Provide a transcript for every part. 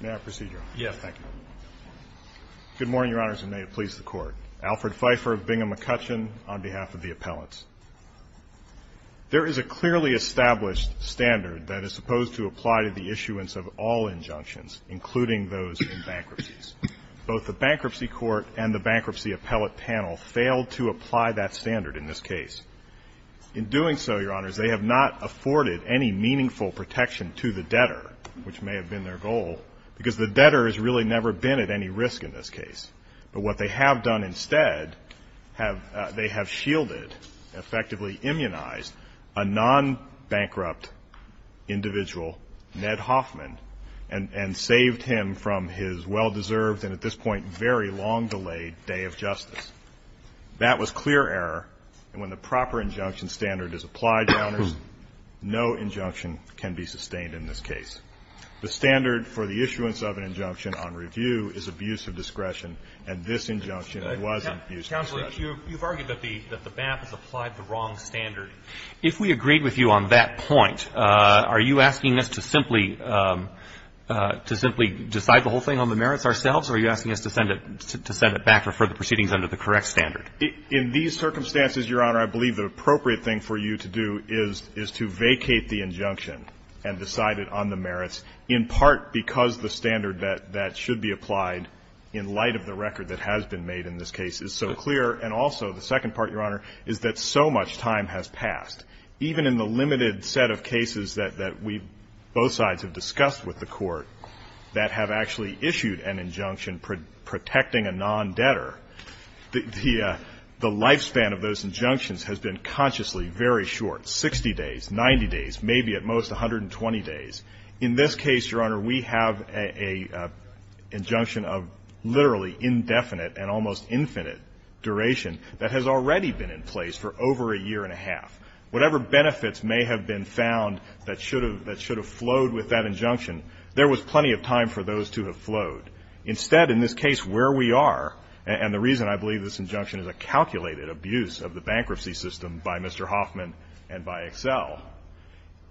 May I proceed, Your Honor? Yes. Thank you. Good morning, Your Honors, and may it please the Court. Alfred Pfeiffer of Bingham McCutcheon on behalf of the appellates. There is a clearly established standard that is supposed to apply to the issuance of all injunctions, including those in bankruptcies. Both the Bankruptcy Court and the Bankruptcy Appellate Panel failed to apply that standard in this case. In doing so, Your Honors, they have not afforded any meaningful protection to the debtor, which may have been their goal, because the debtor has really never been at any risk in this case. But what they have done instead, they have shielded, effectively immunized, a non-bankrupt individual, Ned Hoffman, and saved him from his well-deserved and, at this point, very long-delayed Day of Justice. That was clear error, and when the proper injunction standard is applied, Your Honors, no injunction can be sustained in this case. The standard for the issuance of an injunction on review is abuse of discretion, and this injunction was abuse of discretion. Counsel, you've argued that the BAP has applied the wrong standard. If we agreed with you on that point, are you asking us to simply decide the whole thing on the merits ourselves, or are you asking us to send it back for further proceedings under the correct standard? In these circumstances, Your Honor, I believe the appropriate thing for you to do is to vacate the injunction and decide it on the merits, in part because the standard that should be applied, in light of the record that has been made in this case, is so clear. And also, the second part, Your Honor, is that so much time has passed. Even in the limited set of cases that we both sides have discussed with the Court that have actually issued an injunction protecting a non-debtor, the lifespan of those injunctions has been consciously very short, 60 days, 90 days, maybe at most 120 days. In this case, Your Honor, we have an injunction of literally indefinite and almost infinite duration that has already been in place for over a year and a half. Whatever benefits may have been found that should have flowed with that injunction, there was plenty of time for those to have flowed. Instead, in this case where we are, and the reason I believe this injunction is a calculated abuse of the bankruptcy system by Mr. Hoffman and by Excel,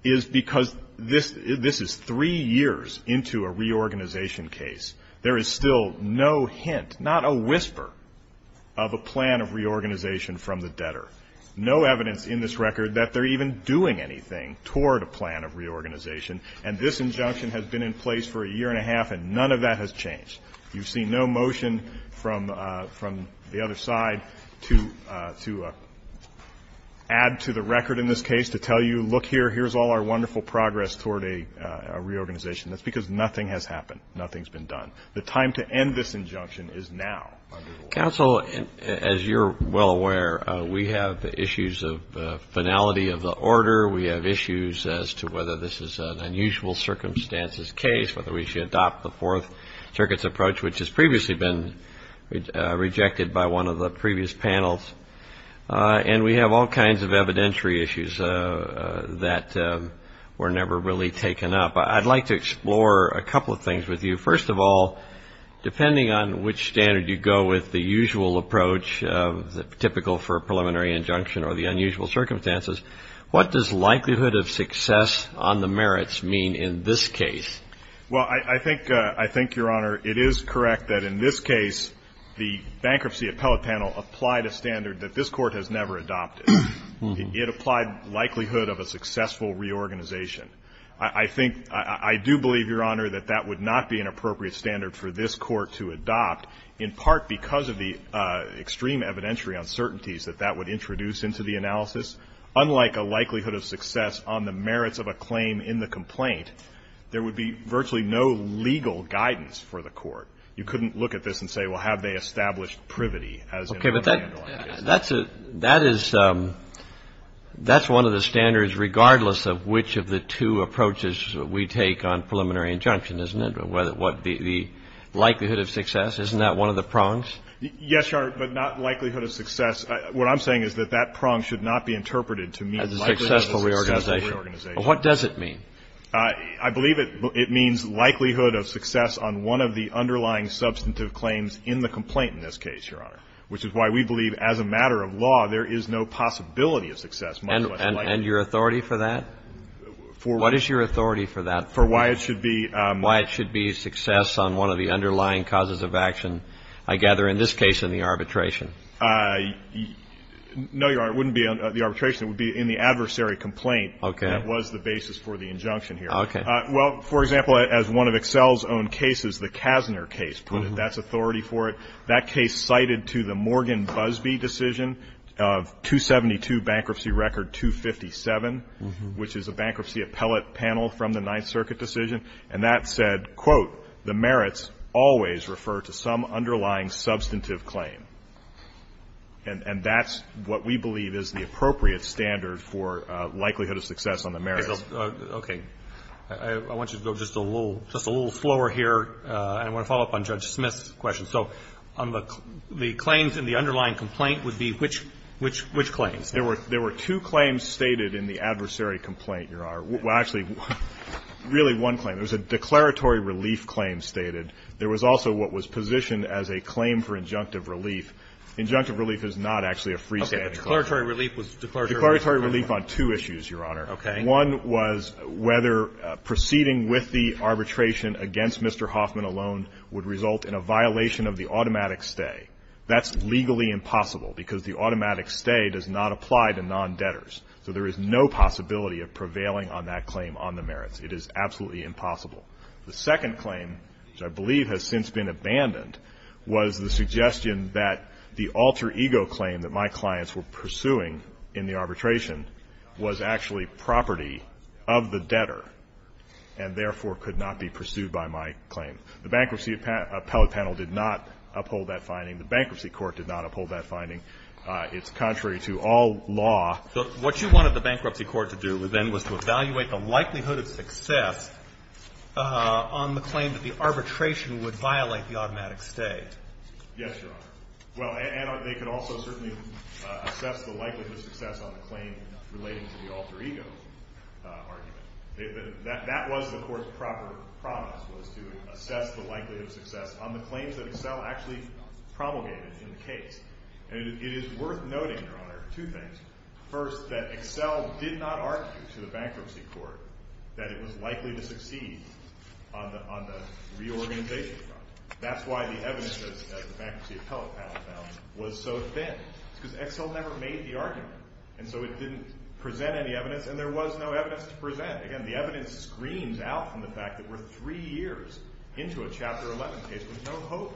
is because this is three years into a reorganization case. There is still no hint, not a whisper, of a plan of reorganization from the debtor. No evidence in this record that they're even doing anything toward a plan of reorganization. And this injunction has been in place for a year and a half, and none of that has changed. You've seen no motion from the other side to add to the record in this case to tell you, look here, here's all our wonderful progress toward a reorganization. That's because nothing has happened. Nothing's been done. The time to end this injunction is now. Counsel, as you're well aware, we have issues of finality of the order. We have issues as to whether this is an unusual circumstances case, whether we should adopt the Fourth Circuit's approach, which has previously been rejected by one of the previous panels. And we have all kinds of evidentiary issues that were never really taken up. I'd like to go with the usual approach, typical for a preliminary injunction or the unusual circumstances. What does likelihood of success on the merits mean in this case? Well, I think, Your Honor, it is correct that in this case the bankruptcy appellate panel applied a standard that this Court has never adopted. It applied likelihood of a successful reorganization. I think, I do believe, Your Honor, that that would not be an appropriate standard for this Court to adopt, in part because of the extreme evidentiary uncertainties that that would introduce into the analysis. Unlike a likelihood of success on the merits of a claim in the complaint, there would be virtually no legal guidance for the Court. You couldn't look at this and say, well, have they established privity, as in other handling cases. Okay. But that's one of the standards, regardless of which of the two approaches we take on preliminary injunction, isn't it? The likelihood of success, isn't that one of the prongs? Yes, Your Honor, but not likelihood of success. What I'm saying is that that prong should not be interpreted to mean likelihood of a successful reorganization. What does it mean? I believe it means likelihood of success on one of the underlying substantive claims in the complaint in this case, Your Honor, which is why we believe as a matter of law there is no possibility of success. And your authority for that? For what? What is your authority for that? For why it should be? Why it should be success on one of the underlying causes of action, I gather, in this case in the arbitration. No, Your Honor, it wouldn't be on the arbitration. It would be in the adversary complaint. Okay. That was the basis for the injunction here. Okay. Well, for example, as one of Excel's own cases, the Kassner case, put it, that's authority for it. That case cited to the Morgan Busby decision of 272 bankruptcy record 257, which is a bankruptcy appellate panel from the Ninth Circuit decision, and that said, quote, the merits always refer to some underlying substantive claim. And that's what we believe is the appropriate standard for likelihood of success on the merits. Okay. I want you to go just a little slower here, and I want to follow up on Judge Smith's question. So the claims in the underlying complaint would be which claims? There were two claims stated in the adversary complaint, Your Honor. Well, actually, really one claim. There was a declaratory relief claim stated. There was also what was positioned as a claim for injunctive relief. Injunctive relief is not actually a freestanding claim. Okay. The declaratory relief was declaratory relief. Declaratory relief on two issues, Your Honor. Okay. One was whether proceeding with the arbitration against Mr. Hoffman alone would result in a violation of the automatic stay. That's legally impossible because the automatic stay does not apply to non-debtors. So there is no possibility of prevailing on that claim on the merits. It is absolutely impossible. The second claim, which I believe has since been abandoned, was the suggestion that the alter ego claim that my clients were pursuing in the arbitration was actually property of the debtor and, therefore, could not be pursued by my claim. The Bankruptcy Appellate Panel did not uphold that finding. The Bankruptcy Court did not uphold that finding. It's contrary to all law. So what you wanted the Bankruptcy Court to do then was to evaluate the likelihood of success on the claim that the arbitration would violate the automatic stay. Yes, Your Honor. Well, and they could also certainly assess the likelihood of success on the claim relating to the alter ego argument. That was the Court's proper promise was to assess the likelihood of success on the claims that Excel actually promulgated in the case. And it is worth noting, Your Honor, two things. First, that Excel did not argue to the Bankruptcy Court that it was likely to succeed on the reorganization problem. That's why the evidence, as the Bankruptcy Court argued, did not present any evidence, and there was no evidence to present. Again, the evidence screams out from the fact that we're three years into a Chapter 11 case. There's no hope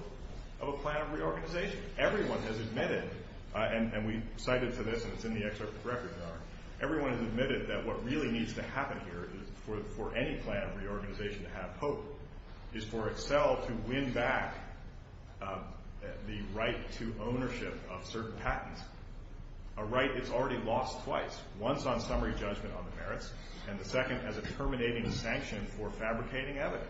of a plan of reorganization. Everyone has admitted, and we cited for this, and it's in the excerpt of the record, Your Honor, everyone has admitted that what really needs to happen here for any plan of reorganization to have hope is for Excel to win back the right to ownership of certain patents, a right that's already lost twice, once on summary judgment on the merits and the second as a terminating sanction for fabricating evidence.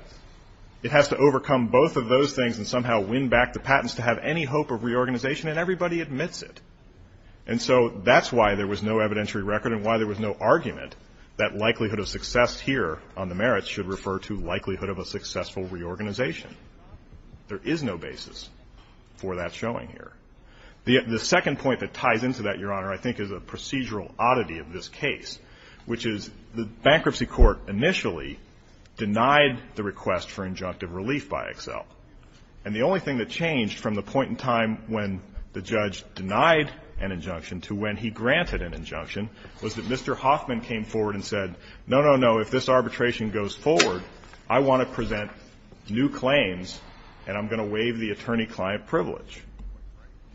It has to overcome both of those things and somehow win back the patents to have any hope of reorganization, and everybody admits it. And so that's why there was no evidentiary record and why there was no argument that likelihood of success here on the merits should refer to likelihood of a successful reorganization. There is no basis for that showing here. The second point that ties into that, Your Honor, I think is a procedural oddity of this case, which is the Bankruptcy Court initially denied the request for injunctive relief by Excel, and the only thing that changed from the point in time when the judge denied an injunction to when he granted an injunction was that Mr. Hoffman came forward and said, no, no, no, if this arbitration goes forward, I want to present new claims and I'm going to waive the attorney-client privilege.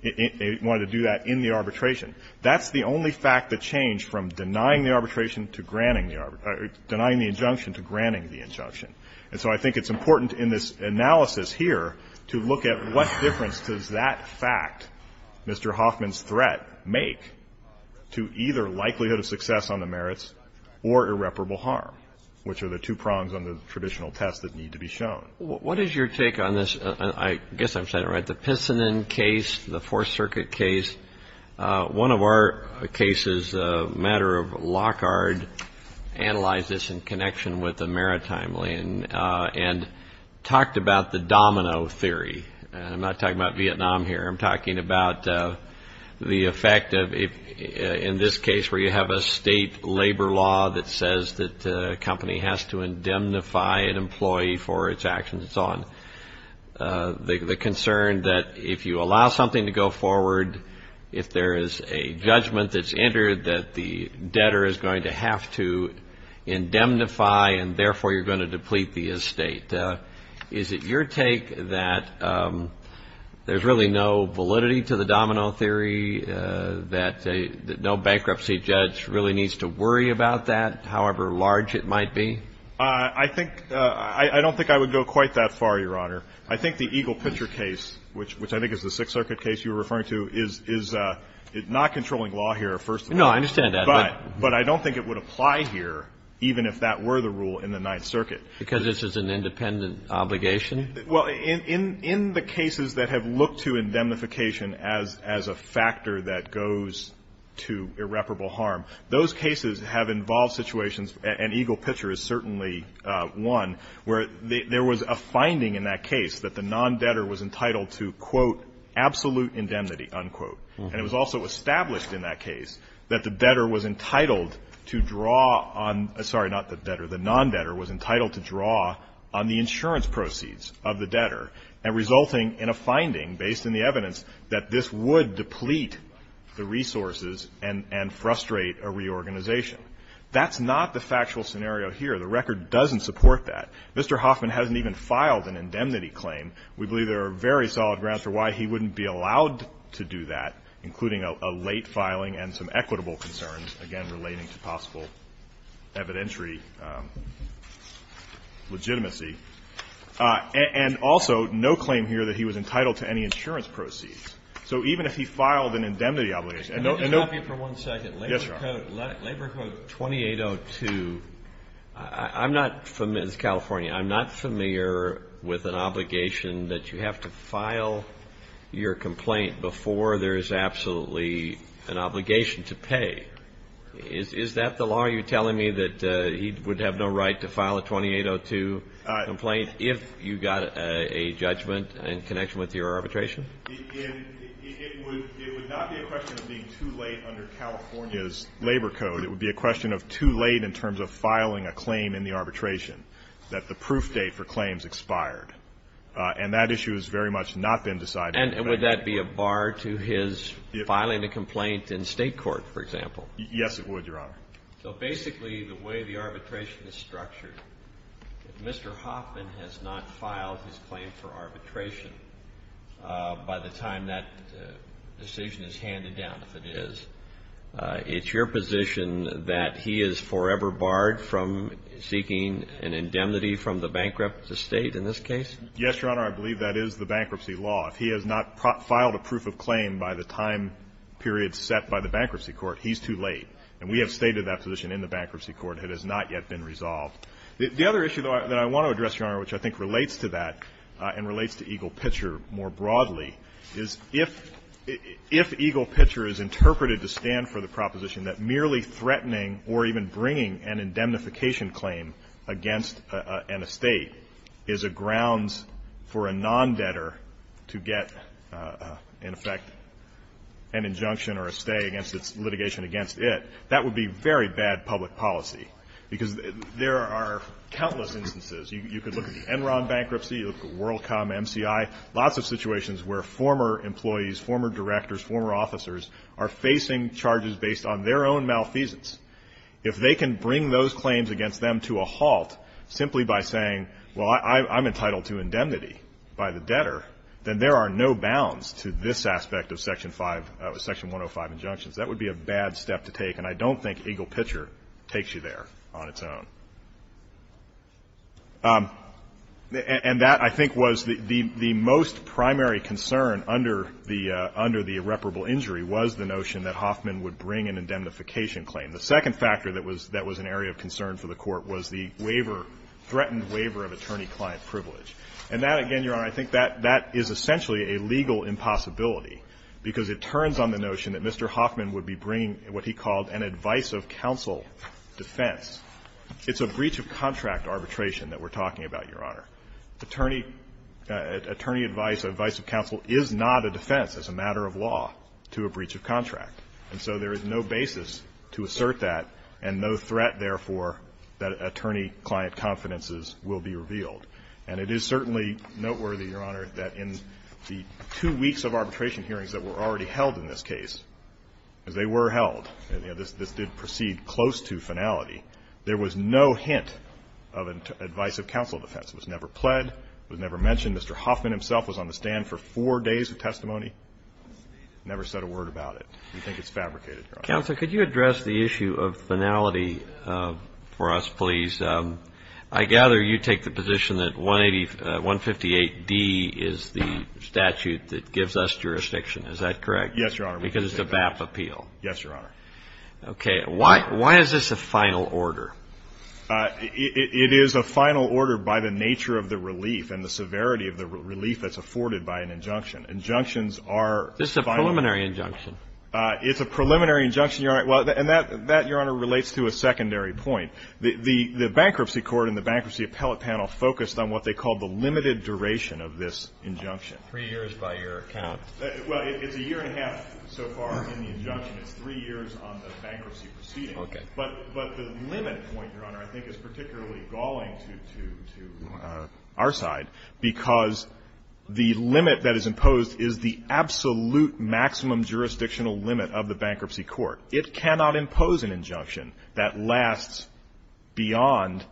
They wanted to do that in the arbitration. That's the only fact that changed from denying the arbitration to granting the or denying the injunction to granting the injunction. And so I think it's important in this analysis here to look at what difference does that fact, Mr. Hoffman's threat, make to either likelihood of success on the merits or irreparable harm, which are the two prongs on the traditional test that need to be shown. What is your take on this, I guess I'm saying it right, the Pinsonin case, the Fourth Circuit case? One of our cases, a matter of Lockhart, analyzed this in connection with the maritime lien and talked about the domino theory. I'm not talking about Vietnam here. I'm talking about the effect of in this case where you have a state labor law that says that a company has to indemnify an employee for its actions and so on. The concern that if you allow something to go forward, if there is a judgment that's entered that the debtor is going to have to indemnify and therefore you're going to deplete the estate, is it your take that there's really no validity to the domino theory, that no bankruptcy judge really needs to worry about that, however large it might be? I think — I don't think I would go quite that far, Your Honor. I think the Eagle Pitcher case, which I think is the Sixth Circuit case you were referring to, is not the case. I'm not controlling law here, first of all. No, I understand that. But I don't think it would apply here even if that were the rule in the Ninth Circuit. Because this is an independent obligation? Well, in the cases that have looked to indemnification as a factor that goes to irreparable harm, those cases have involved situations, and Eagle Pitcher is certainly one, where there was a finding in that case that the non-debtor was entitled to, quote, absolute indemnity, unquote. And it was also established in that case that the debtor was entitled to draw on — sorry, not the debtor. The non-debtor was entitled to draw on the insurance proceeds of the debtor, and resulting in a finding based on the evidence that this would deplete the resources and frustrate a reorganization. That's not the factual scenario here. The record doesn't support that. Mr. Hoffman hasn't even filed an indemnity claim. And we believe there are very solid grounds for why he wouldn't be allowed to do that, including a late filing and some equitable concerns, again, relating to possible evidentiary legitimacy. And also, no claim here that he was entitled to any insurance proceeds. So even if he filed an indemnity obligation — Can I interrupt you for one second? Yes, Your Honor. Labor Code 2802. I'm not — this is California. I'm not familiar with an obligation that you have to file your complaint before there is absolutely an obligation to pay. Is that the law? Are you telling me that he would have no right to file a 2802 complaint if you got a judgment in connection with your arbitration? It would not be a question of being too late under California's Labor Code. It would be a question of too late in terms of filing a claim in the arbitration, that the proof date for claims expired. And that issue has very much not been decided. And would that be a bar to his filing a complaint in State court, for example? Yes, it would, Your Honor. So basically, the way the arbitration is structured, if Mr. Hoffman has not filed his by the time that decision is handed down, if it is, it's your position that he is forever barred from seeking an indemnity from the bankruptcy state in this case? Yes, Your Honor. I believe that is the bankruptcy law. If he has not filed a proof of claim by the time period set by the bankruptcy court, he's too late. And we have stated that position in the bankruptcy court. It has not yet been resolved. The other issue, though, that I want to address, Your Honor, which I think relates to that and relates to Eagle Pitcher more broadly, is if Eagle Pitcher is interpreted to stand for the proposition that merely threatening or even bringing an indemnification claim against an estate is a grounds for a non-debtor to get, in effect, an injunction or a stay against its litigation against it, that would be very bad public policy. Because there are countless instances. You could look at the Enron bankruptcy. You could look at WorldCom, MCI, lots of situations where former employees, former directors, former officers are facing charges based on their own malfeasance. If they can bring those claims against them to a halt simply by saying, well, I'm entitled to indemnity by the debtor, then there are no bounds to this aspect of Section 105 injunctions. That would be a bad step to take. And I don't think Eagle Pitcher takes you there on its own. And that, I think, was the most primary concern under the irreparable injury was the notion that Hoffman would bring an indemnification claim. The second factor that was an area of concern for the Court was the waiver, threatened waiver of attorney-client privilege. And that, again, Your Honor, I think that is essentially a legal impossibility because it turns on the notion that Mr. Hoffman would be bringing what he called an advice-of-counsel defense. It's a breach-of-contract arbitration that we're talking about, Your Honor. Attorney advice, advice-of-counsel is not a defense as a matter of law to a breach-of-contract. And so there is no basis to assert that and no threat, therefore, that attorney-client confidences will be revealed. And it is certainly noteworthy, Your Honor, that in the two weeks of arbitration hearings that were already held in this case, as they were held, this did proceed close to finality, there was no hint of advice-of-counsel defense. It was never pled. It was never mentioned. Mr. Hoffman himself was on the stand for four days of testimony. Never said a word about it. We think it's fabricated, Your Honor. Counsel, could you address the issue of finality for us, please? I gather you take the position that 158D is the statute that gives us jurisdiction. Is that correct? Yes, Your Honor. Because it's a BAP appeal. Yes, Your Honor. Okay. Why is this a final order? It is a final order by the nature of the relief and the severity of the relief that's afforded by an injunction. Injunctions are final. This is a preliminary injunction. It's a preliminary injunction, Your Honor. And that, Your Honor, relates to a secondary point. The bankruptcy court and the bankruptcy appellate panel focused on what they called the limited duration of this injunction. Three years by your account. Well, it's a year and a half so far in the injunction. It's three years on the bankruptcy proceeding. Okay. But the limit point, Your Honor, I think is particularly galling to our side, because the limit that is imposed is the absolute maximum jurisdictional limit of the bankruptcy court. It cannot impose an injunction that lasts beyond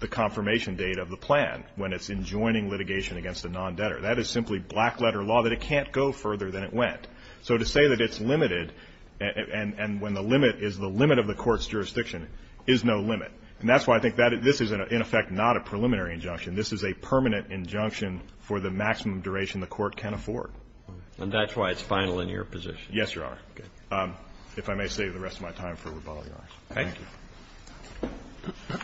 the confirmation date of the plan when it's enjoining litigation against a non-debtor. That is simply black letter law that it can't go further than it went. So to say that it's limited and when the limit is the limit of the court's jurisdiction is no limit. And that's why I think this is, in effect, not a preliminary injunction. This is a permanent injunction for the maximum duration the court can afford. And that's why it's final in your position. Yes, Your Honor. Okay. If I may save the rest of my time for rebuttal, Your Honor. Thank you.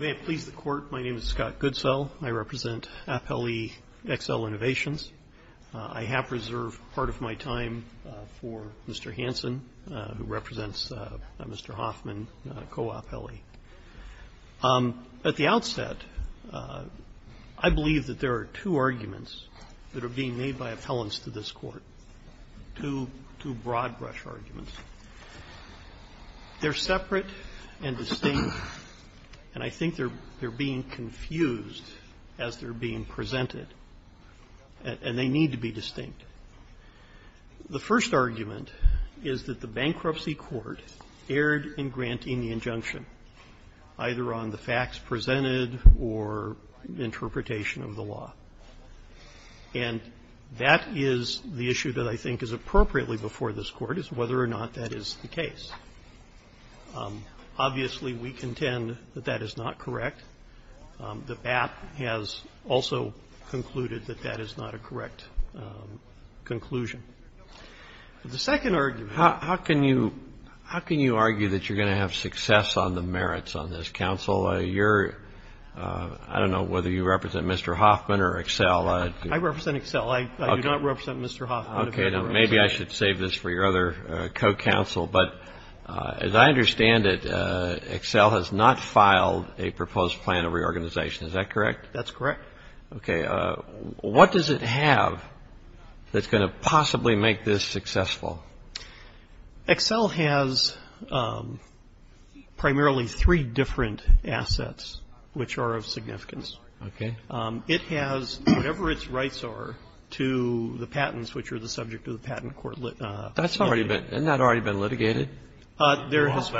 May it please the Court. My name is Scott Goodsell. I represent Appellee XL Innovations. I have reserved part of my time for Mr. Hansen, who represents Mr. Hoffman, co-appellee. At the outset, I believe that there are two arguments that are being made by appellants to this Court, two broad-brush arguments. They're separate and distinct, and I think they're being confused as they're being presented, and they need to be distinct. The first argument is that the bankruptcy court erred in granting the injunction, either on the facts presented or interpretation of the law. And that is the issue that I think is appropriately before this Court, is whether or not that is the case. Obviously, we contend that that is not correct. The BAP has also concluded that that is not a correct conclusion. The second argument. How can you argue that you're going to have success on the merits on this, counsel? You're, I don't know whether you represent Mr. Hoffman or XL. I represent XL. I do not represent Mr. Hoffman. Okay. Maybe I should save this for your other co-counsel. But as I understand it, XL has not filed a proposed plan of reorganization. Is that correct? That's correct. Okay. What does it have that's going to possibly make this successful? XL has primarily three different assets which are of significance. Okay. It has whatever its rights are to the patents which are the subject of the patent court. Isn't that already been litigated? There has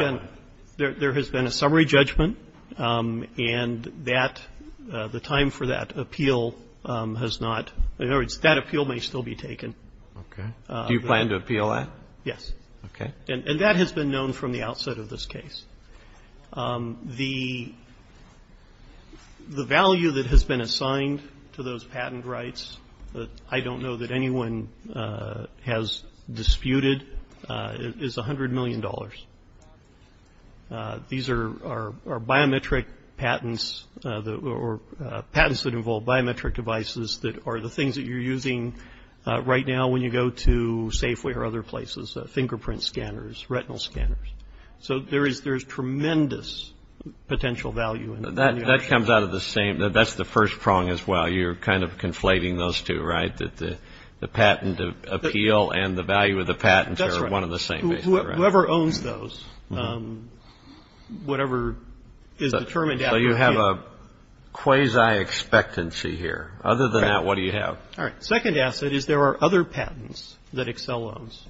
been a summary judgment, and that, the time for that appeal has not, in other words, that appeal may still be taken. Okay. Do you plan to appeal that? Yes. Okay. And that has been known from the outset of this case. The value that has been assigned to those patent rights, I don't know that anyone has disputed, is $100 million. These are biometric patents or patents that involve biometric devices that are the things that you're using right now when you go to Safeway or other places, fingerprint scanners, retinal scanners. So there is tremendous potential value. That comes out of the same. That's the first prong as well. So you're kind of conflating those two, right, that the patent appeal and the value of the patents are one and the same. That's right. Whoever owns those, whatever is determined. So you have a quasi-expectancy here. Other than that, what do you have? All right. Second asset is there are other patents that XL owns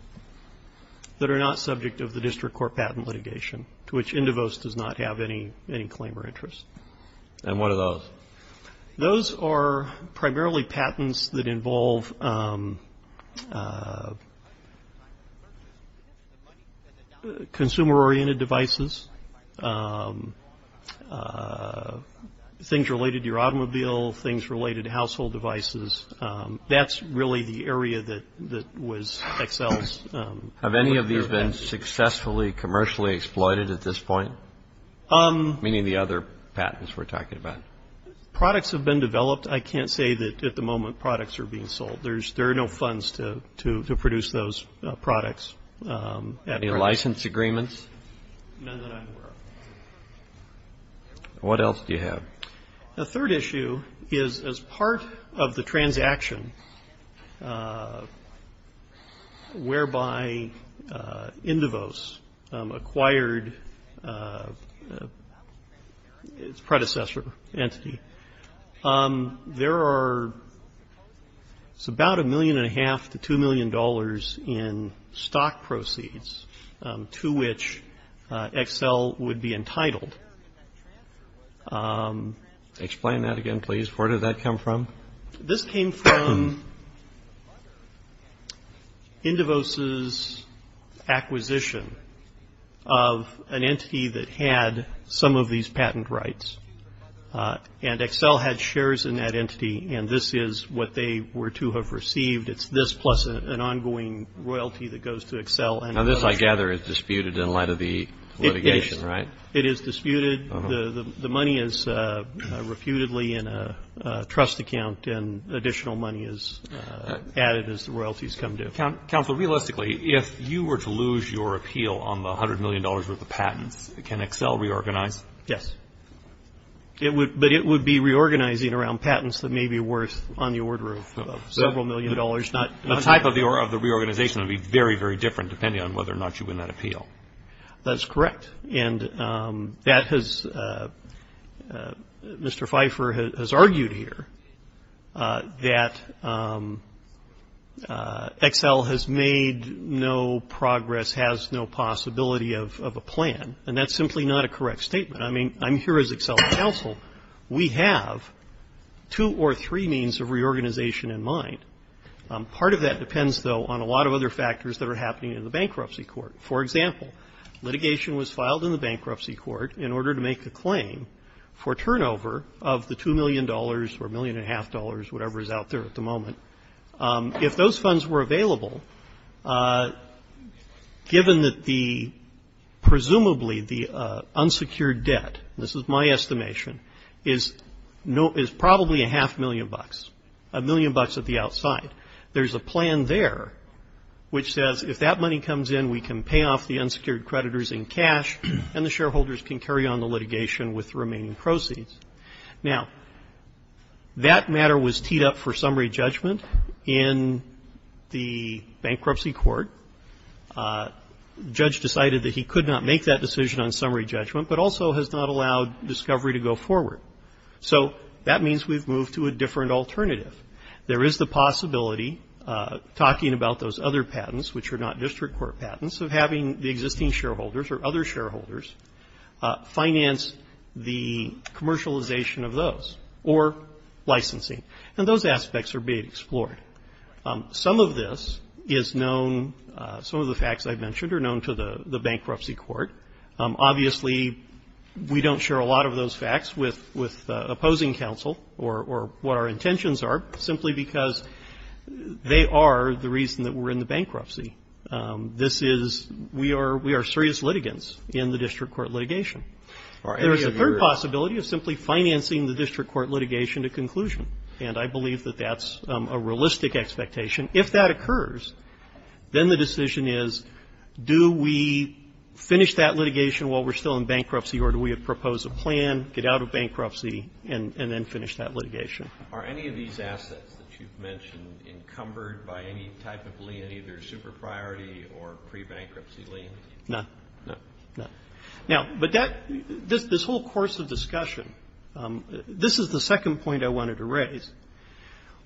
that are not subject of the district court patent litigation, to which Indivost does not have any claim or interest. And what are those? Those are primarily patents that involve consumer-oriented devices, things related to your automobile, things related to household devices. That's really the area that was XL's. Have any of these been successfully commercially exploited at this point, meaning the other patents we're talking about? Products have been developed. I can't say that at the moment products are being sold. There are no funds to produce those products. Any license agreements? None that I'm aware of. What else do you have? The third issue is as part of the transaction whereby Indivost acquired its predecessor entity, there are about a million and a half to $2 million in stock proceeds to which XL would be entitled. Explain that again, please. Where did that come from? This came from Indivost's acquisition of an entity that had some of these patent rights. And XL had shares in that entity, and this is what they were to have received. It's this plus an ongoing royalty that goes to XL. Now, this, I gather, is disputed in light of the litigation, right? It is disputed. The money is refutedly in a trust account, and additional money is added as the royalties come due. Counselor, realistically, if you were to lose your appeal on the $100 million worth of patents, can XL reorganize? Yes. But it would be reorganizing around patents that may be worth on the order of several million dollars. The type of the reorganization would be very, very different depending on whether or not you win that appeal. That's correct. And that has Mr. Pfeiffer has argued here that XL has made no progress, has no possibility of a plan, and that's simply not a correct statement. I mean, I'm here as XL's counsel. We have two or three means of reorganization in mind. Part of that depends, though, on a lot of other factors that are happening in the bankruptcy court. For example, litigation was filed in the bankruptcy court in order to make a claim for turnover of the $2 million or $1.5 million, whatever is out there at the moment. If those funds were available, given that the presumably the unsecured debt, this is my estimation, is probably a half million bucks, a million bucks at the outside. There's a plan there which says if that money comes in, we can pay off the unsecured creditors in cash and the shareholders can carry on the litigation with the remaining proceeds. Now, that matter was teed up for summary judgment in the bankruptcy court. The judge decided that he could not make that decision on summary judgment, but also has not allowed discovery to go forward. So that means we've moved to a different alternative. There is the possibility, talking about those other patents, which are not district court patents, of having the existing shareholders or other shareholders finance the commercialization of those or licensing. And those aspects are being explored. Some of this is known, some of the facts I've mentioned are known to the bankruptcy court. Obviously, we don't share a lot of those facts with opposing counsel or what our intentions are, simply because they are the reason that we're in the bankruptcy. This is we are serious litigants in the district court litigation. There is a third possibility of simply financing the district court litigation to conclusion, and I believe that that's a realistic expectation. If that occurs, then the decision is, do we finish that litigation while we're still in bankruptcy, or do we propose a plan, get out of bankruptcy, and then finish that litigation? Are any of these assets that you've mentioned encumbered by any type of lien, either super-priority or pre-bankruptcy lien? No. No. No. Now, but that this whole course of discussion, this is the second point I wanted to raise.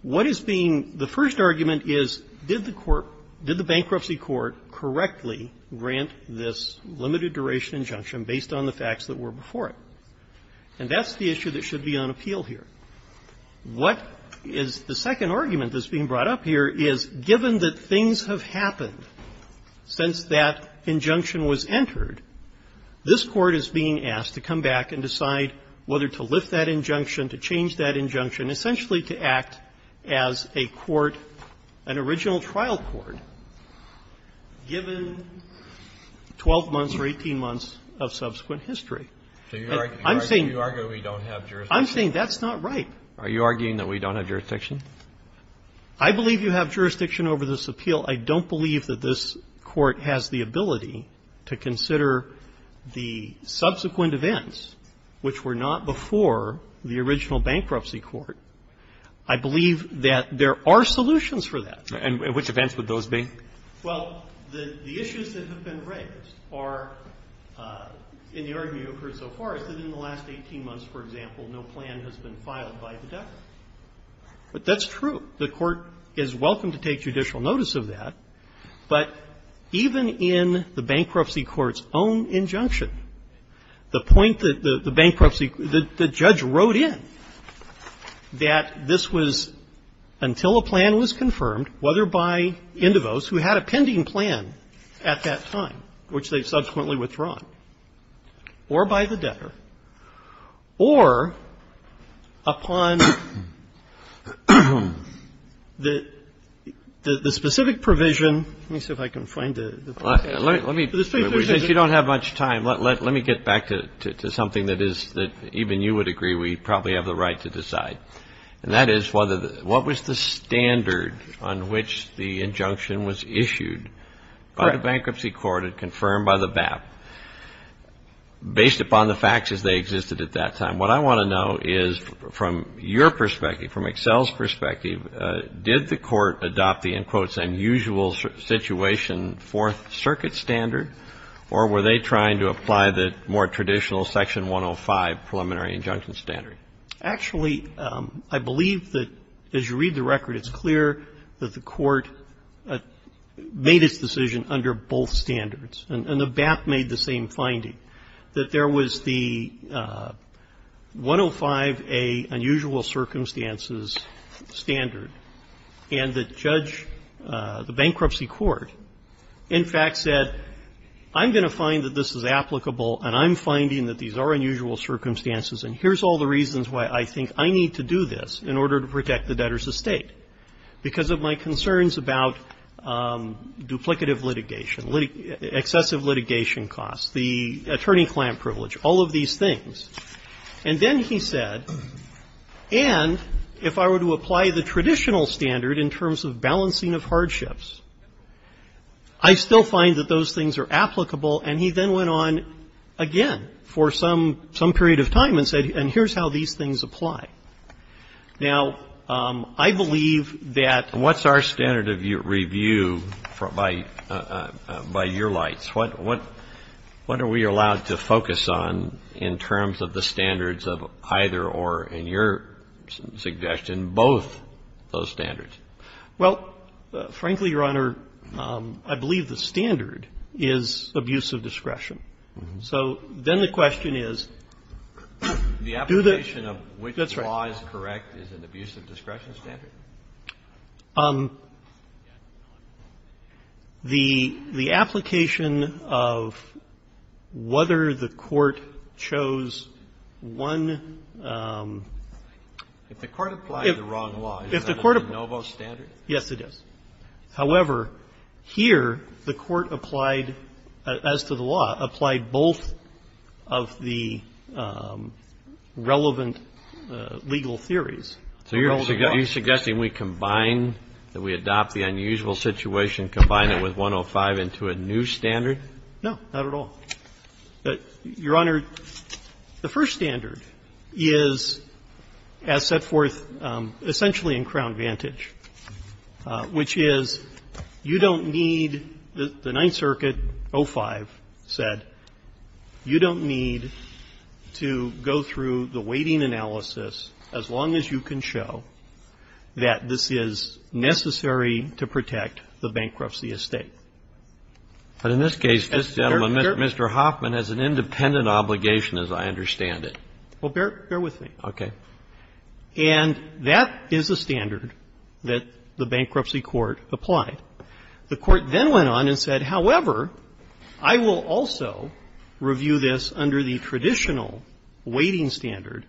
What is being the first argument is, did the court, did the bankruptcy court correctly grant this limited-duration injunction based on the facts that were before it? And that's the issue that should be on appeal here. What is the second argument that's being brought up here is, given that things have happened since that injunction was entered, this Court is being asked to come back and decide whether to lift that injunction, to change that injunction, essentially to act as a court, an original trial court, given 12 months or 18 months of subsequent history. I'm saying that's not right. Are you arguing that we don't have jurisdiction? I believe you have jurisdiction over this appeal. I don't believe that this Court has the ability to consider the subsequent events which were not before the original bankruptcy court. I believe that there are solutions for that. And which events would those be? Well, the issues that have been raised are, in the argument I've heard so far, is that in the last 18 months, for example, no plan has been filed by the Department. But that's true. The Court is welcome to take judicial notice of that. But even in the bankruptcy court's own injunction, the point that the bankruptcy the judge wrote in, that this was until a plan was confirmed, whether by Indivos, who had a pending plan at that time, which they subsequently withdrawn, or by the the specific provision. Let me see if I can find the specific provision. Since you don't have much time, let me get back to something that is that even you would agree we probably have the right to decide. And that is what was the standard on which the injunction was issued by the bankruptcy court and confirmed by the BAP based upon the facts as they existed at that time. And what I want to know is, from your perspective, from Excel's perspective, did the Court adopt the, in quotes, unusual situation Fourth Circuit standard, or were they trying to apply the more traditional Section 105 preliminary injunction standard? Actually, I believe that, as you read the record, it's clear that the Court made its decision under both standards, and the BAP made the same finding, that there was the 105A unusual circumstances standard, and the judge, the bankruptcy court, in fact, said, I'm going to find that this is applicable, and I'm finding that these are unusual circumstances, and here's all the reasons why I think I need to do this in order to protect the debtor's estate, because of my concerns about duplicative litigation, excessive litigation costs, the attorney-client privilege, all of these things. And then he said, and if I were to apply the traditional standard in terms of balancing of hardships, I still find that those things are applicable, and he then went on again for some period of time and said, and here's how these things apply. Now, I believe that the question is, what's our standard of review by your lights? What are we allowed to focus on in terms of the standards of either or, in your suggestion, both those standards? Well, frankly, Your Honor, I believe the standard is abuse of discretion. So then the question is, do the ---- That's right. The application of which law is correct is an abuse of discretion standard? The application of whether the court chose one ---- If the court applied the wrong law, is that a no-vote standard? Yes, it is. However, here the court applied, as to the law, applied both of the relevant legal theories. So you're suggesting we combine, that we adopt the unusual situation, combine it with 105 into a new standard? No, not at all. Your Honor, the first standard is as set forth essentially in Crown Vantage, which is you don't need the Ninth Circuit, 05, said you don't need to go through the weighting analysis as long as you can show that this is necessary to protect the bankruptcy estate. But in this case, this gentleman, Mr. Hoffman, has an independent obligation, as I understand it. Well, bear with me. Okay. And that is a standard that the bankruptcy court applied. The court then went on and said, however, I will also review this under the traditional weighting standard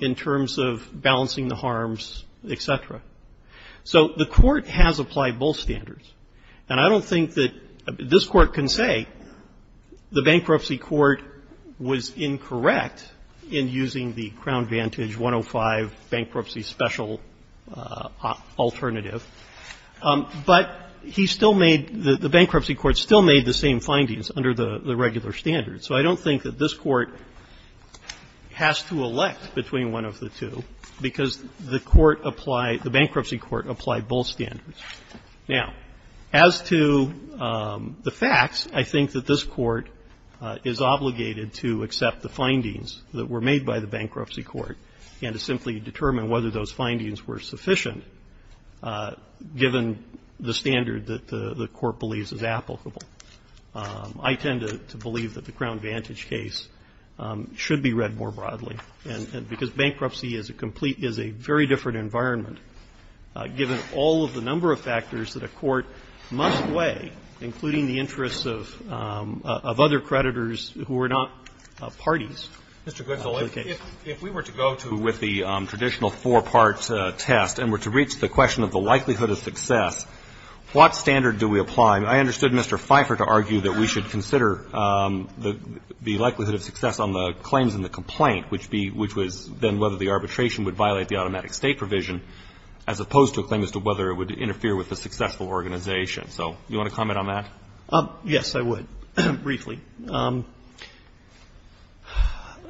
in terms of balancing the harms, et cetera. So the court has applied both standards. And I don't think that this Court can say the bankruptcy court was incorrect in using the Crown Vantage 105 bankruptcy special alternative. But he still made the bankruptcy court still made the same findings under the regular standard. So I don't think that this Court has to elect between one of the two, because the court applied, the bankruptcy court applied both standards. Now, as to the facts, I think that this Court is obligated to accept the findings that were made by the bankruptcy court and to simply determine whether those findings were sufficient given the standard that the court believes is applicable. I tend to believe that the Crown Vantage case should be read more broadly, and because bankruptcy is a complete, is a very different environment, given all of the number of factors that a court must weigh, including the interests of other creditors who are not parties to the case. Robertson, if we were to go to with the traditional four-part test and were to reach the question of the likelihood of success, what standard do we apply? And I understood Mr. Pfeiffer to argue that we should consider the likelihood of success on the claims in the complaint, which was then whether the arbitration would violate the automatic State provision, as opposed to a claim as to whether it would interfere with a successful organization. So do you want to comment on that? Yes, I would, briefly.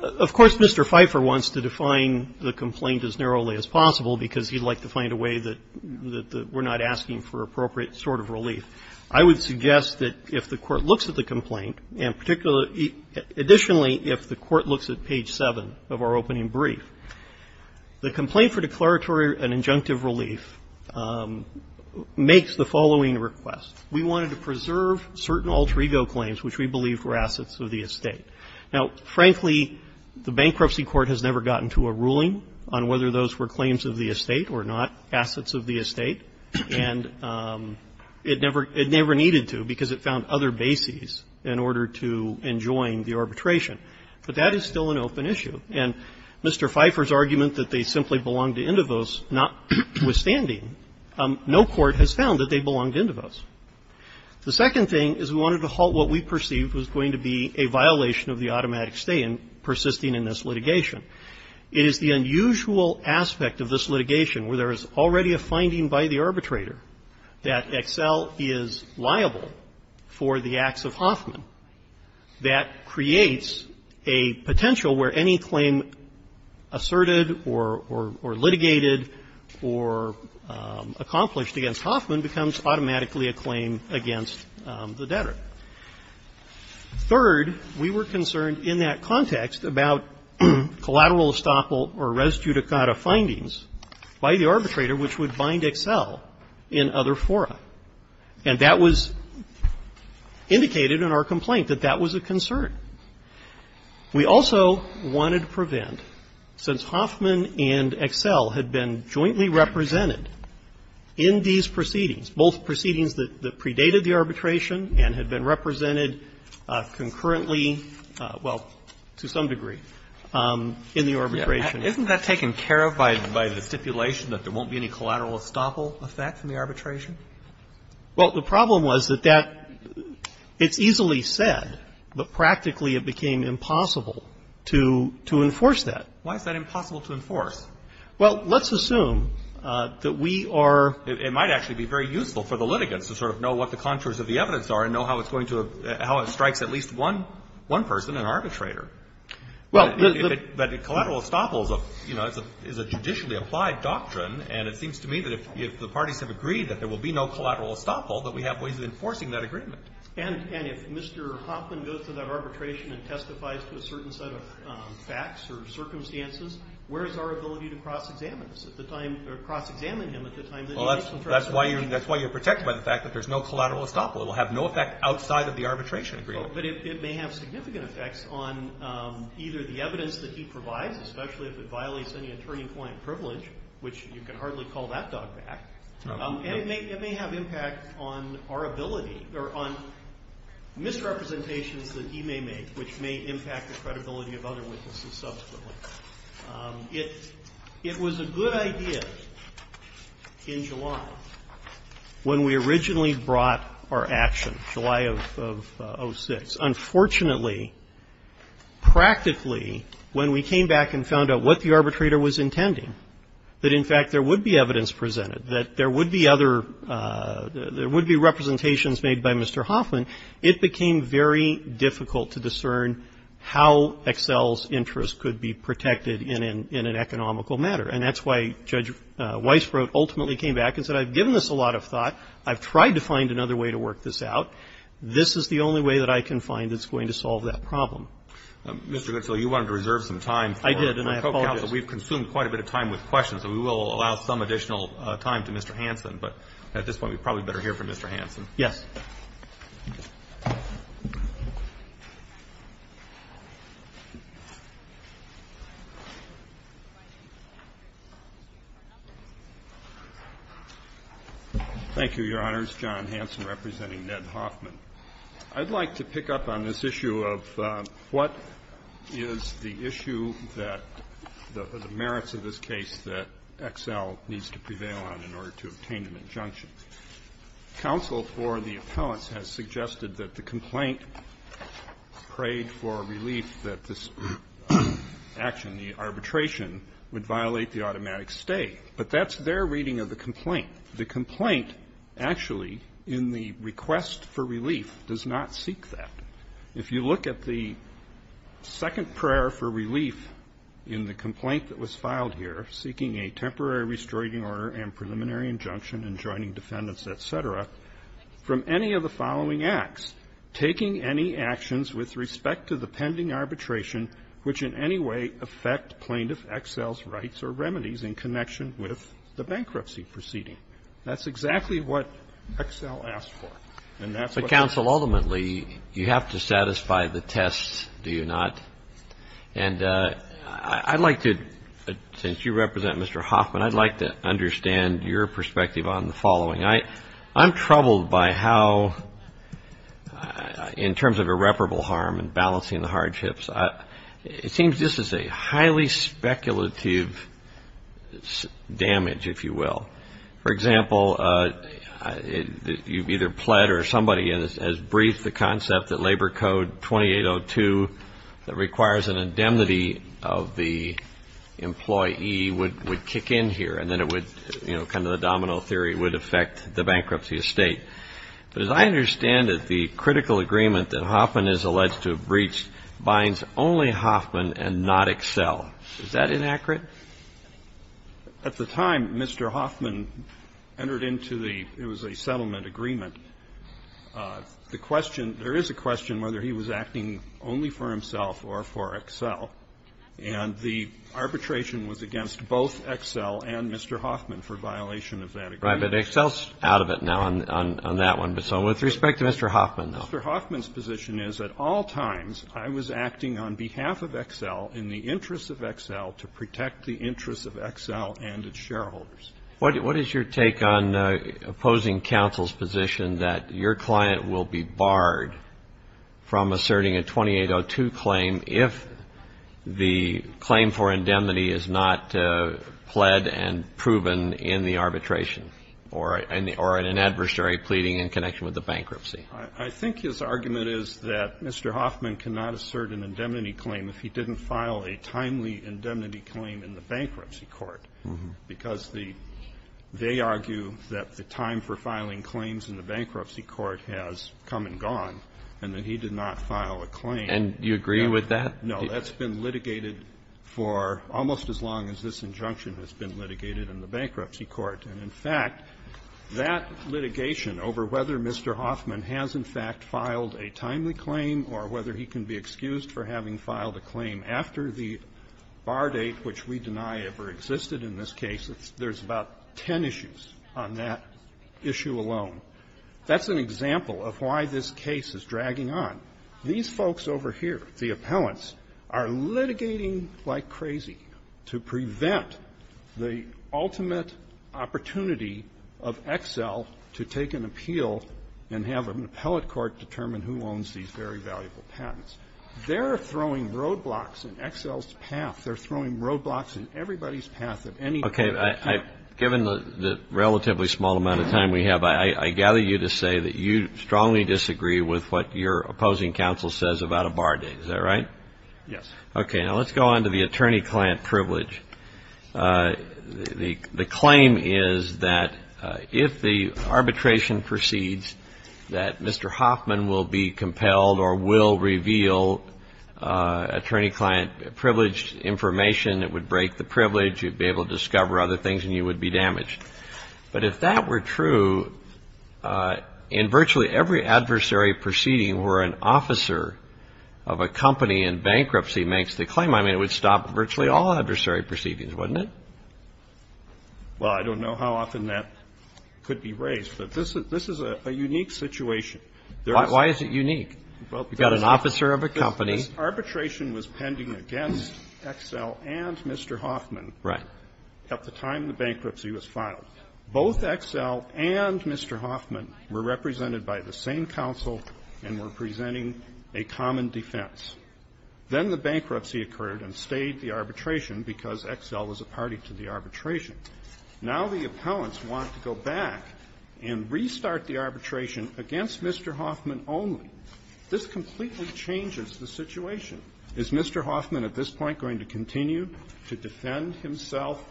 Of course, Mr. Pfeiffer wants to define the complaint as narrowly as possible, because he'd like to find a way that we're not asking for appropriate sort of relief. I would suggest that if the Court looks at the complaint, and particularly additionally, if the Court looks at page 7 of our opening brief, the complaint for declaratory and injunctive relief makes the following request. We wanted to preserve certain alter ego claims which we believe were assets of the estate. Now, frankly, the Bankruptcy Court has never gotten to a ruling on whether those were claims of the estate or not, assets of the estate, and it never needed to because it found other bases in order to enjoin the arbitration. But that is still an open issue. And Mr. Pfeiffer's argument that they simply belonged to Indivos, notwithstanding, no court has found that they belonged to Indivos. The second thing is we wanted to halt what we perceived was going to be a violation of the automatic State in persisting in this litigation. It is the unusual aspect of this litigation where there is already a finding by the arbitrator for the acts of Hoffman that creates a potential where any claim asserted or litigated or accomplished against Hoffman becomes automatically a claim against the debtor. Third, we were concerned in that context about collateral estoppel or res judicata findings by the arbitrator which would bind Excel in other fora. And that was indicated in our complaint, that that was a concern. We also wanted to prevent, since Hoffman and Excel had been jointly represented in these proceedings, both proceedings that predated the arbitration and had been represented concurrently, well, to some degree, in the arbitration. Isn't that taken care of by the stipulation that there won't be any collateral estoppel effect in the arbitration? Well, the problem was that that, it's easily said, but practically it became impossible to enforce that. Why is that impossible to enforce? Well, let's assume that we are It might actually be very useful for the litigants to sort of know what the contours of the evidence are and know how it's going to, how it strikes at least one person, an arbitrator. Well, the But collateral estoppel is a, you know, is a judicially applied doctrine, and it seems to me that if the parties have agreed that there will be no collateral estoppel, that we have ways of enforcing that agreement. And if Mr. Hoffman goes to that arbitration and testifies to a certain set of facts or circumstances, where is our ability to cross-examine this at the time, or cross-examine him at the time that he makes some Well, that's why you're protected by the fact that there's no collateral estoppel. It will have no effect outside of the arbitration agreement. But it may have significant effects on either the evidence that he provides, especially if it violates any attorney-client privilege, which you can hardly call that dog back. And it may have impact on our ability, or on misrepresentations that he may make, which may impact the credibility of other witnesses subsequently. It was a good idea in July when we originally brought our action, July of 06. Unfortunately, practically, when we came back and found out what the arbitrator was intending, that in fact there would be evidence presented, that there would be other – there would be representations made by Mr. Hoffman, it became very difficult to discern how Excel's interest could be protected in an – in an economical matter. And that's why Judge Weisbrot ultimately came back and said, I've given this a lot of thought, I've tried to find another way to work this out, this is the only way that I can find that's going to solve that problem. Mr. Goodfellow, you wanted to reserve some time for the co-counsel. I did, and I apologize. We've consumed quite a bit of time with questions, so we will allow some additional time to Mr. Hanson. But at this point, we probably better hear from Mr. Hanson. Yes. Thank you, Your Honors. John Hanson representing Ned Hoffman. I'd like to pick up on this issue of what is the issue that – the merits of this case that Excel needs to prevail on in order to obtain an injunction. Counsel for the appellants has suggested that the complaint prayed for a relief that this action, the arbitration, would violate the automatic stay. But that's their reading of the complaint. The complaint actually in the request for relief does not seek that. If you look at the second prayer for relief in the complaint that was filed here, seeking a temporary restricting order and preliminary injunction and joining defendants, et cetera, from any of the following acts, taking any actions with respect to the pending arbitration which in any way affect plaintiff Excel's rights or remedies in connection with the bankruptcy proceeding. That's exactly what Excel asked for. But, counsel, ultimately, you have to satisfy the test, do you not? And I'd like to – since you represent Mr. Hoffman, I'd like to understand your perspective on the following. I'm troubled by how, in terms of irreparable harm and balancing the hardships, it seems this is a highly speculative damage, if you will. For example, you've either pled or somebody has briefed the concept that Labor Code 2802 that requires an indemnity of the employee would kick in here. And then it would – kind of the domino theory would affect the bankruptcy estate. But as I understand it, the critical agreement that Hoffman is alleged to have breached binds only Hoffman and not Excel. Is that inaccurate? At the time Mr. Hoffman entered into the – it was a settlement agreement. The question – there is a question whether he was acting only for himself or for Excel. And the arbitration was against both Excel and Mr. Hoffman for violation of that agreement. Right. But Excel's out of it now on that one. So with respect to Mr. Hoffman, though. Mr. Hoffman's position is at all times I was acting on behalf of Excel in the interest of Excel to protect the interests of Excel and its shareholders. What is your take on opposing counsel's position that your client will be barred from asserting a 2802 claim if the claim for indemnity is not pled and proven in the arbitration or in an adversary pleading in connection with the bankruptcy? I think his argument is that Mr. Hoffman cannot assert an indemnity claim if he didn't file a timely indemnity claim in the bankruptcy court, because the – they argue that the time for filing claims in the bankruptcy court has come and gone, and that he did not file a claim. And you agree with that? No. That's been litigated for almost as long as this injunction has been litigated in the bankruptcy court. And, in fact, that litigation over whether Mr. Hoffman has, in fact, filed a timely claim or whether he can be excused for having filed a claim after the bar date, which we deny ever existed in this case, there's about ten issues on that issue alone. That's an example of why this case is dragging on. These folks over here, the appellants, are litigating like crazy to prevent the ultimate opportunity of Excel to take an appeal and have an appellate court determine who owns these very valuable patents. They're throwing roadblocks in Excel's path. They're throwing roadblocks in everybody's path at any time. Okay. Given the relatively small amount of time we have, I gather you to say that you strongly disagree with what your opposing counsel says about a bar date. Is that right? Yes. Okay. Now, let's go on to the attorney-client privilege. The claim is that if the arbitration proceeds, that Mr. Hoffman will be compelled or will reveal attorney-client privileged information. It would break the privilege. You'd be able to discover other things and you would be damaged. But if that were true, in virtually every adversary proceeding where an officer of a company in bankruptcy makes the claim, I mean, it would stop virtually all adversary proceedings, wouldn't it? Well, I don't know how often that could be raised, but this is a unique situation. Why is it unique? You've got an officer of a company. Arbitration was pending against Excel and Mr. Hoffman. Right. At the time the bankruptcy was filed. Both Excel and Mr. Hoffman were represented by the same counsel and were presenting a common defense. Then the bankruptcy occurred and stayed the arbitration because Excel was a party to the arbitration. Now the opponents want to go back and restart the arbitration against Mr. Hoffman only. This completely changes the situation. Is Mr. Hoffman at this point going to continue to defend himself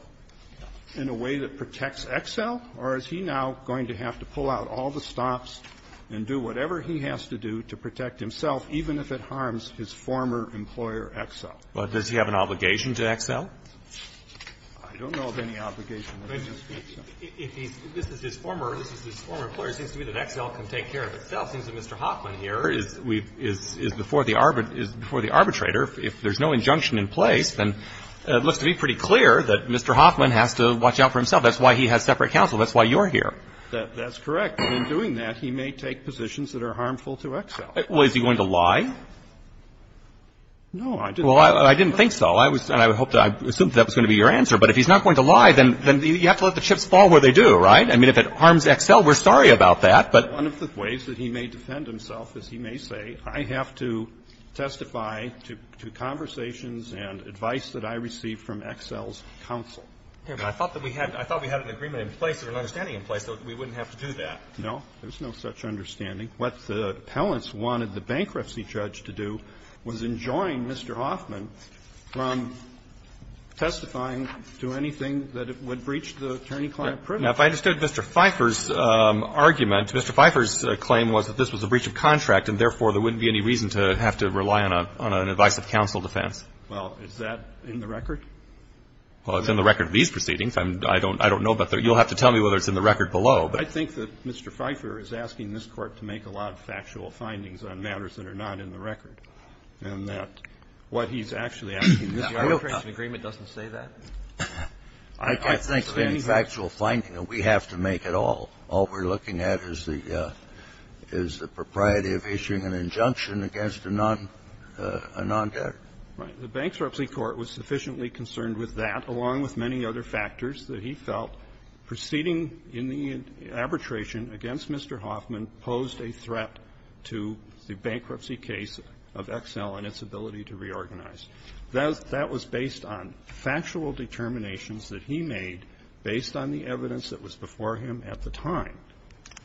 in a way that protects Excel, or is he now going to have to pull out all the stops and do whatever he has to do to protect himself, even if it harms his former employer, Excel? But does he have an obligation to Excel? I don't know of any obligation. If he's his former employer, it seems to me that Excel can take care of itself. It seems that Mr. Hoffman here is before the arbitrator. If there's no injunction in place, then it looks to be pretty clear that Mr. Hoffman has to watch out for himself. That's why he has separate counsel. That's why you're here. That's correct. And in doing that, he may take positions that are harmful to Excel. Well, is he going to lie? No, I didn't. Well, I didn't think so. I was going to hope that was going to be your answer. But if he's not going to lie, then you have to let the chips fall where they do, right? I mean, if it harms Excel, we're sorry about that, but. One of the ways that he may defend himself is he may say, I have to testify to conversations and advice that I received from Excel's counsel. I thought that we had an agreement in place or an understanding in place that we wouldn't have to do that. No, there's no such understanding. What the appellants wanted the bankruptcy judge to do was enjoin Mr. Hoffman from testifying to anything that would breach the attorney-client privilege. Now, if I understood Mr. Pfeiffer's argument, Mr. Pfeiffer's claim was that this was a breach of contract and, therefore, there wouldn't be any reason to have to rely on an advice of counsel defense. Well, is that in the record? Well, it's in the record of these proceedings. I don't know about the other. You'll have to tell me whether it's in the record below. I think that Mr. Pfeiffer is asking this Court to make a lot of factual findings on matters that are not in the record, and that what he's actually asking this Court to do. I don't think the agreement doesn't say that. I can't think of any factual finding, and we have to make it all. All we're looking at is the propriety of issuing an injunction against a non-debtor. Right. The Bankruptcy Court was sufficiently concerned with that, along with many other factors that he felt, proceeding in the arbitration against Mr. Hoffman, posed a threat to the bankruptcy case of Exel and its ability to reorganize. That was based on factual determinations that he made based on the evidence that was before him at the time.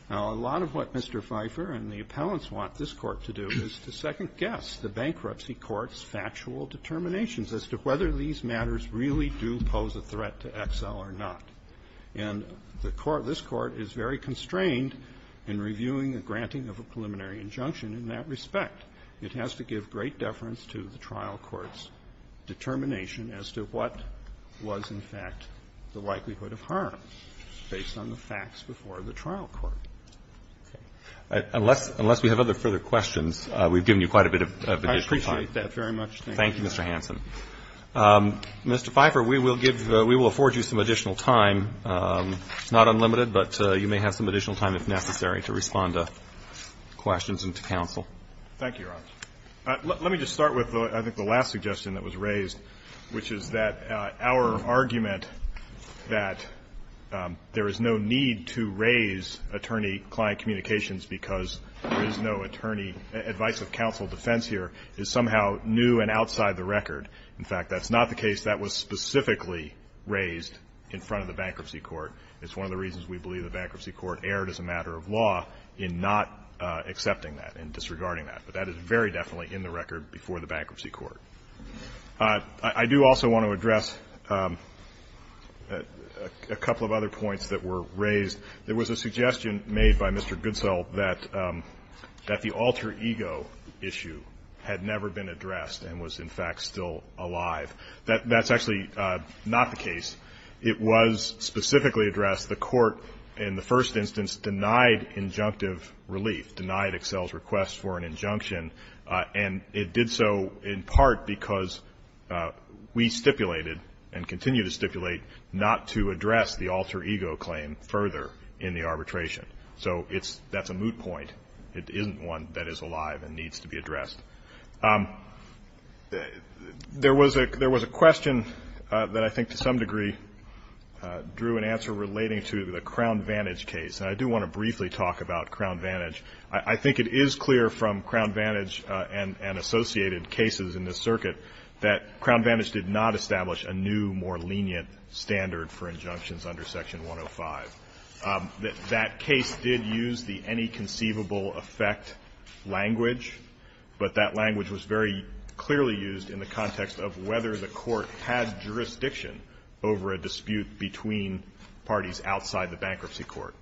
Now, a lot of what Mr. Pfeiffer and the appellants want this Court to do is to second guess the Bankruptcy Court's factual determinations as to whether these matters really do pose a threat to Exel or not. And the Court, this Court, is very constrained in reviewing the granting of a preliminary injunction in that respect. It has to give great deference to the trial court's determination as to what was, in fact, the likelihood of harm based on the facts before the trial court. Okay. Unless we have other further questions, we've given you quite a bit of your free time. I appreciate that very much. Thank you. Thank you, Mr. Hanson. Mr. Pfeiffer, we will afford you some additional time, not unlimited, but you may have some additional time if necessary to respond to questions and to counsel. Thank you, Your Honor. Let me just start with, I think, the last suggestion that was raised, which is that our argument that there is no need to raise attorney-client communications because there is no attorney advice of counsel defense here is somehow new and outside the record. In fact, that's not the case that was specifically raised in front of the bankruptcy court. It's one of the reasons we believe the bankruptcy court erred as a matter of law in not accepting that and disregarding that. But that is very definitely in the record before the bankruptcy court. I do also want to address a couple of other points that were raised. There was a suggestion made by Mr. Goodsell that the alter ego issue had never been addressed and was, in fact, still alive. That's actually not the case. It was specifically addressed. The court, in the first instance, denied injunctive relief, denied Excel's request for an injunction, and it did so in part because we stipulated and continue to stipulate not to address the alter ego claim further in the arbitration. So that's a moot point. It isn't one that is alive and needs to be addressed. There was a question that I think to some degree drew an answer relating to the Crown Vantage case, and I do want to briefly talk about Crown Vantage. I think it is clear from Crown Vantage and associated cases in this circuit that Crown Vantage did not establish a new, more lenient standard for injunctions under Section 105. That case did use the any conceivable effect language, but that language was very clearly used in the context of whether the court had jurisdiction over a dispute between parties outside the bankruptcy court.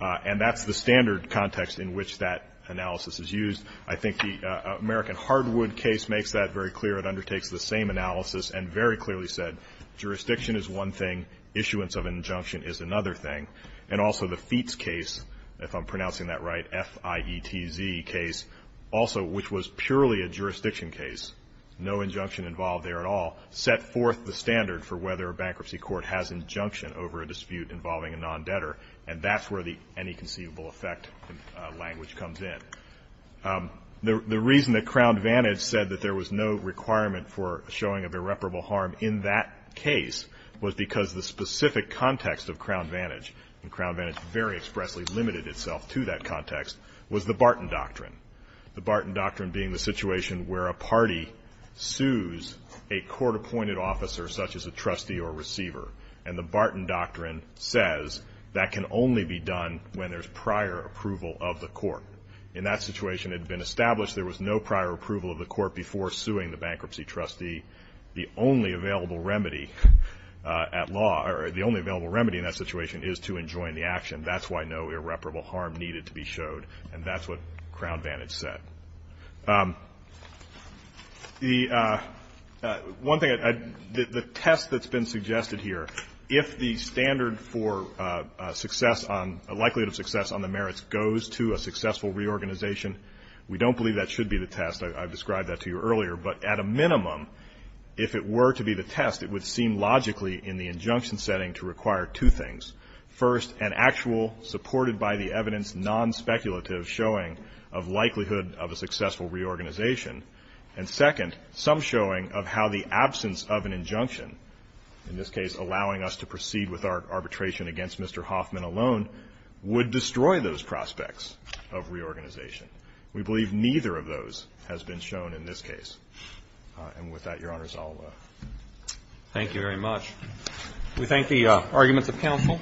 And that's the standard context in which that analysis is used. I think the American Hardwood case makes that very clear. It undertakes the same analysis and very clearly said jurisdiction is one thing, issuance of injunction is another thing. And also the Feetz case, if I'm pronouncing that right, F-I-E-T-Z case, also which was purely a jurisdiction case, no injunction involved there at all, set forth the standard for whether a bankruptcy court has injunction over a dispute involving a non-debtor. And that's where the any conceivable effect language comes in. The reason that Crown Vantage said that there was no requirement for showing of irreparable harm in that case was because the specific context of Crown Vantage, and Crown Vantage very expressly limited itself to that context, was the Barton Doctrine. The Barton Doctrine being the situation where a party sues a court-appointed officer such as a trustee or receiver. And the Barton Doctrine says that can only be done when there's prior approval of the court. In that situation, it had been established there was no prior approval of the court before suing the bankruptcy trustee. The only available remedy at law, or the only available remedy in that situation, is to enjoin the action. That's why no irreparable harm needed to be showed. And that's what Crown Vantage said. The one thing, the test that's been suggested here, if the standard for success on, a likelihood of success on the merits goes to a successful reorganization, we don't believe that should be the test. I've described that to you earlier. But at a minimum, if it were to be the test, it would seem logically in the injunction setting to require two things. First, an actual, supported by the evidence, non-speculative showing of likelihood of a successful reorganization. And second, some showing of how the absence of an injunction, in this case allowing us to proceed with our arbitration against Mr. Hoffman alone, would destroy those prospects of reorganization. We believe neither of those has been shown in this case. And with that, Your Honors, I'll... Thank you very much. We thank the arguments of counsel.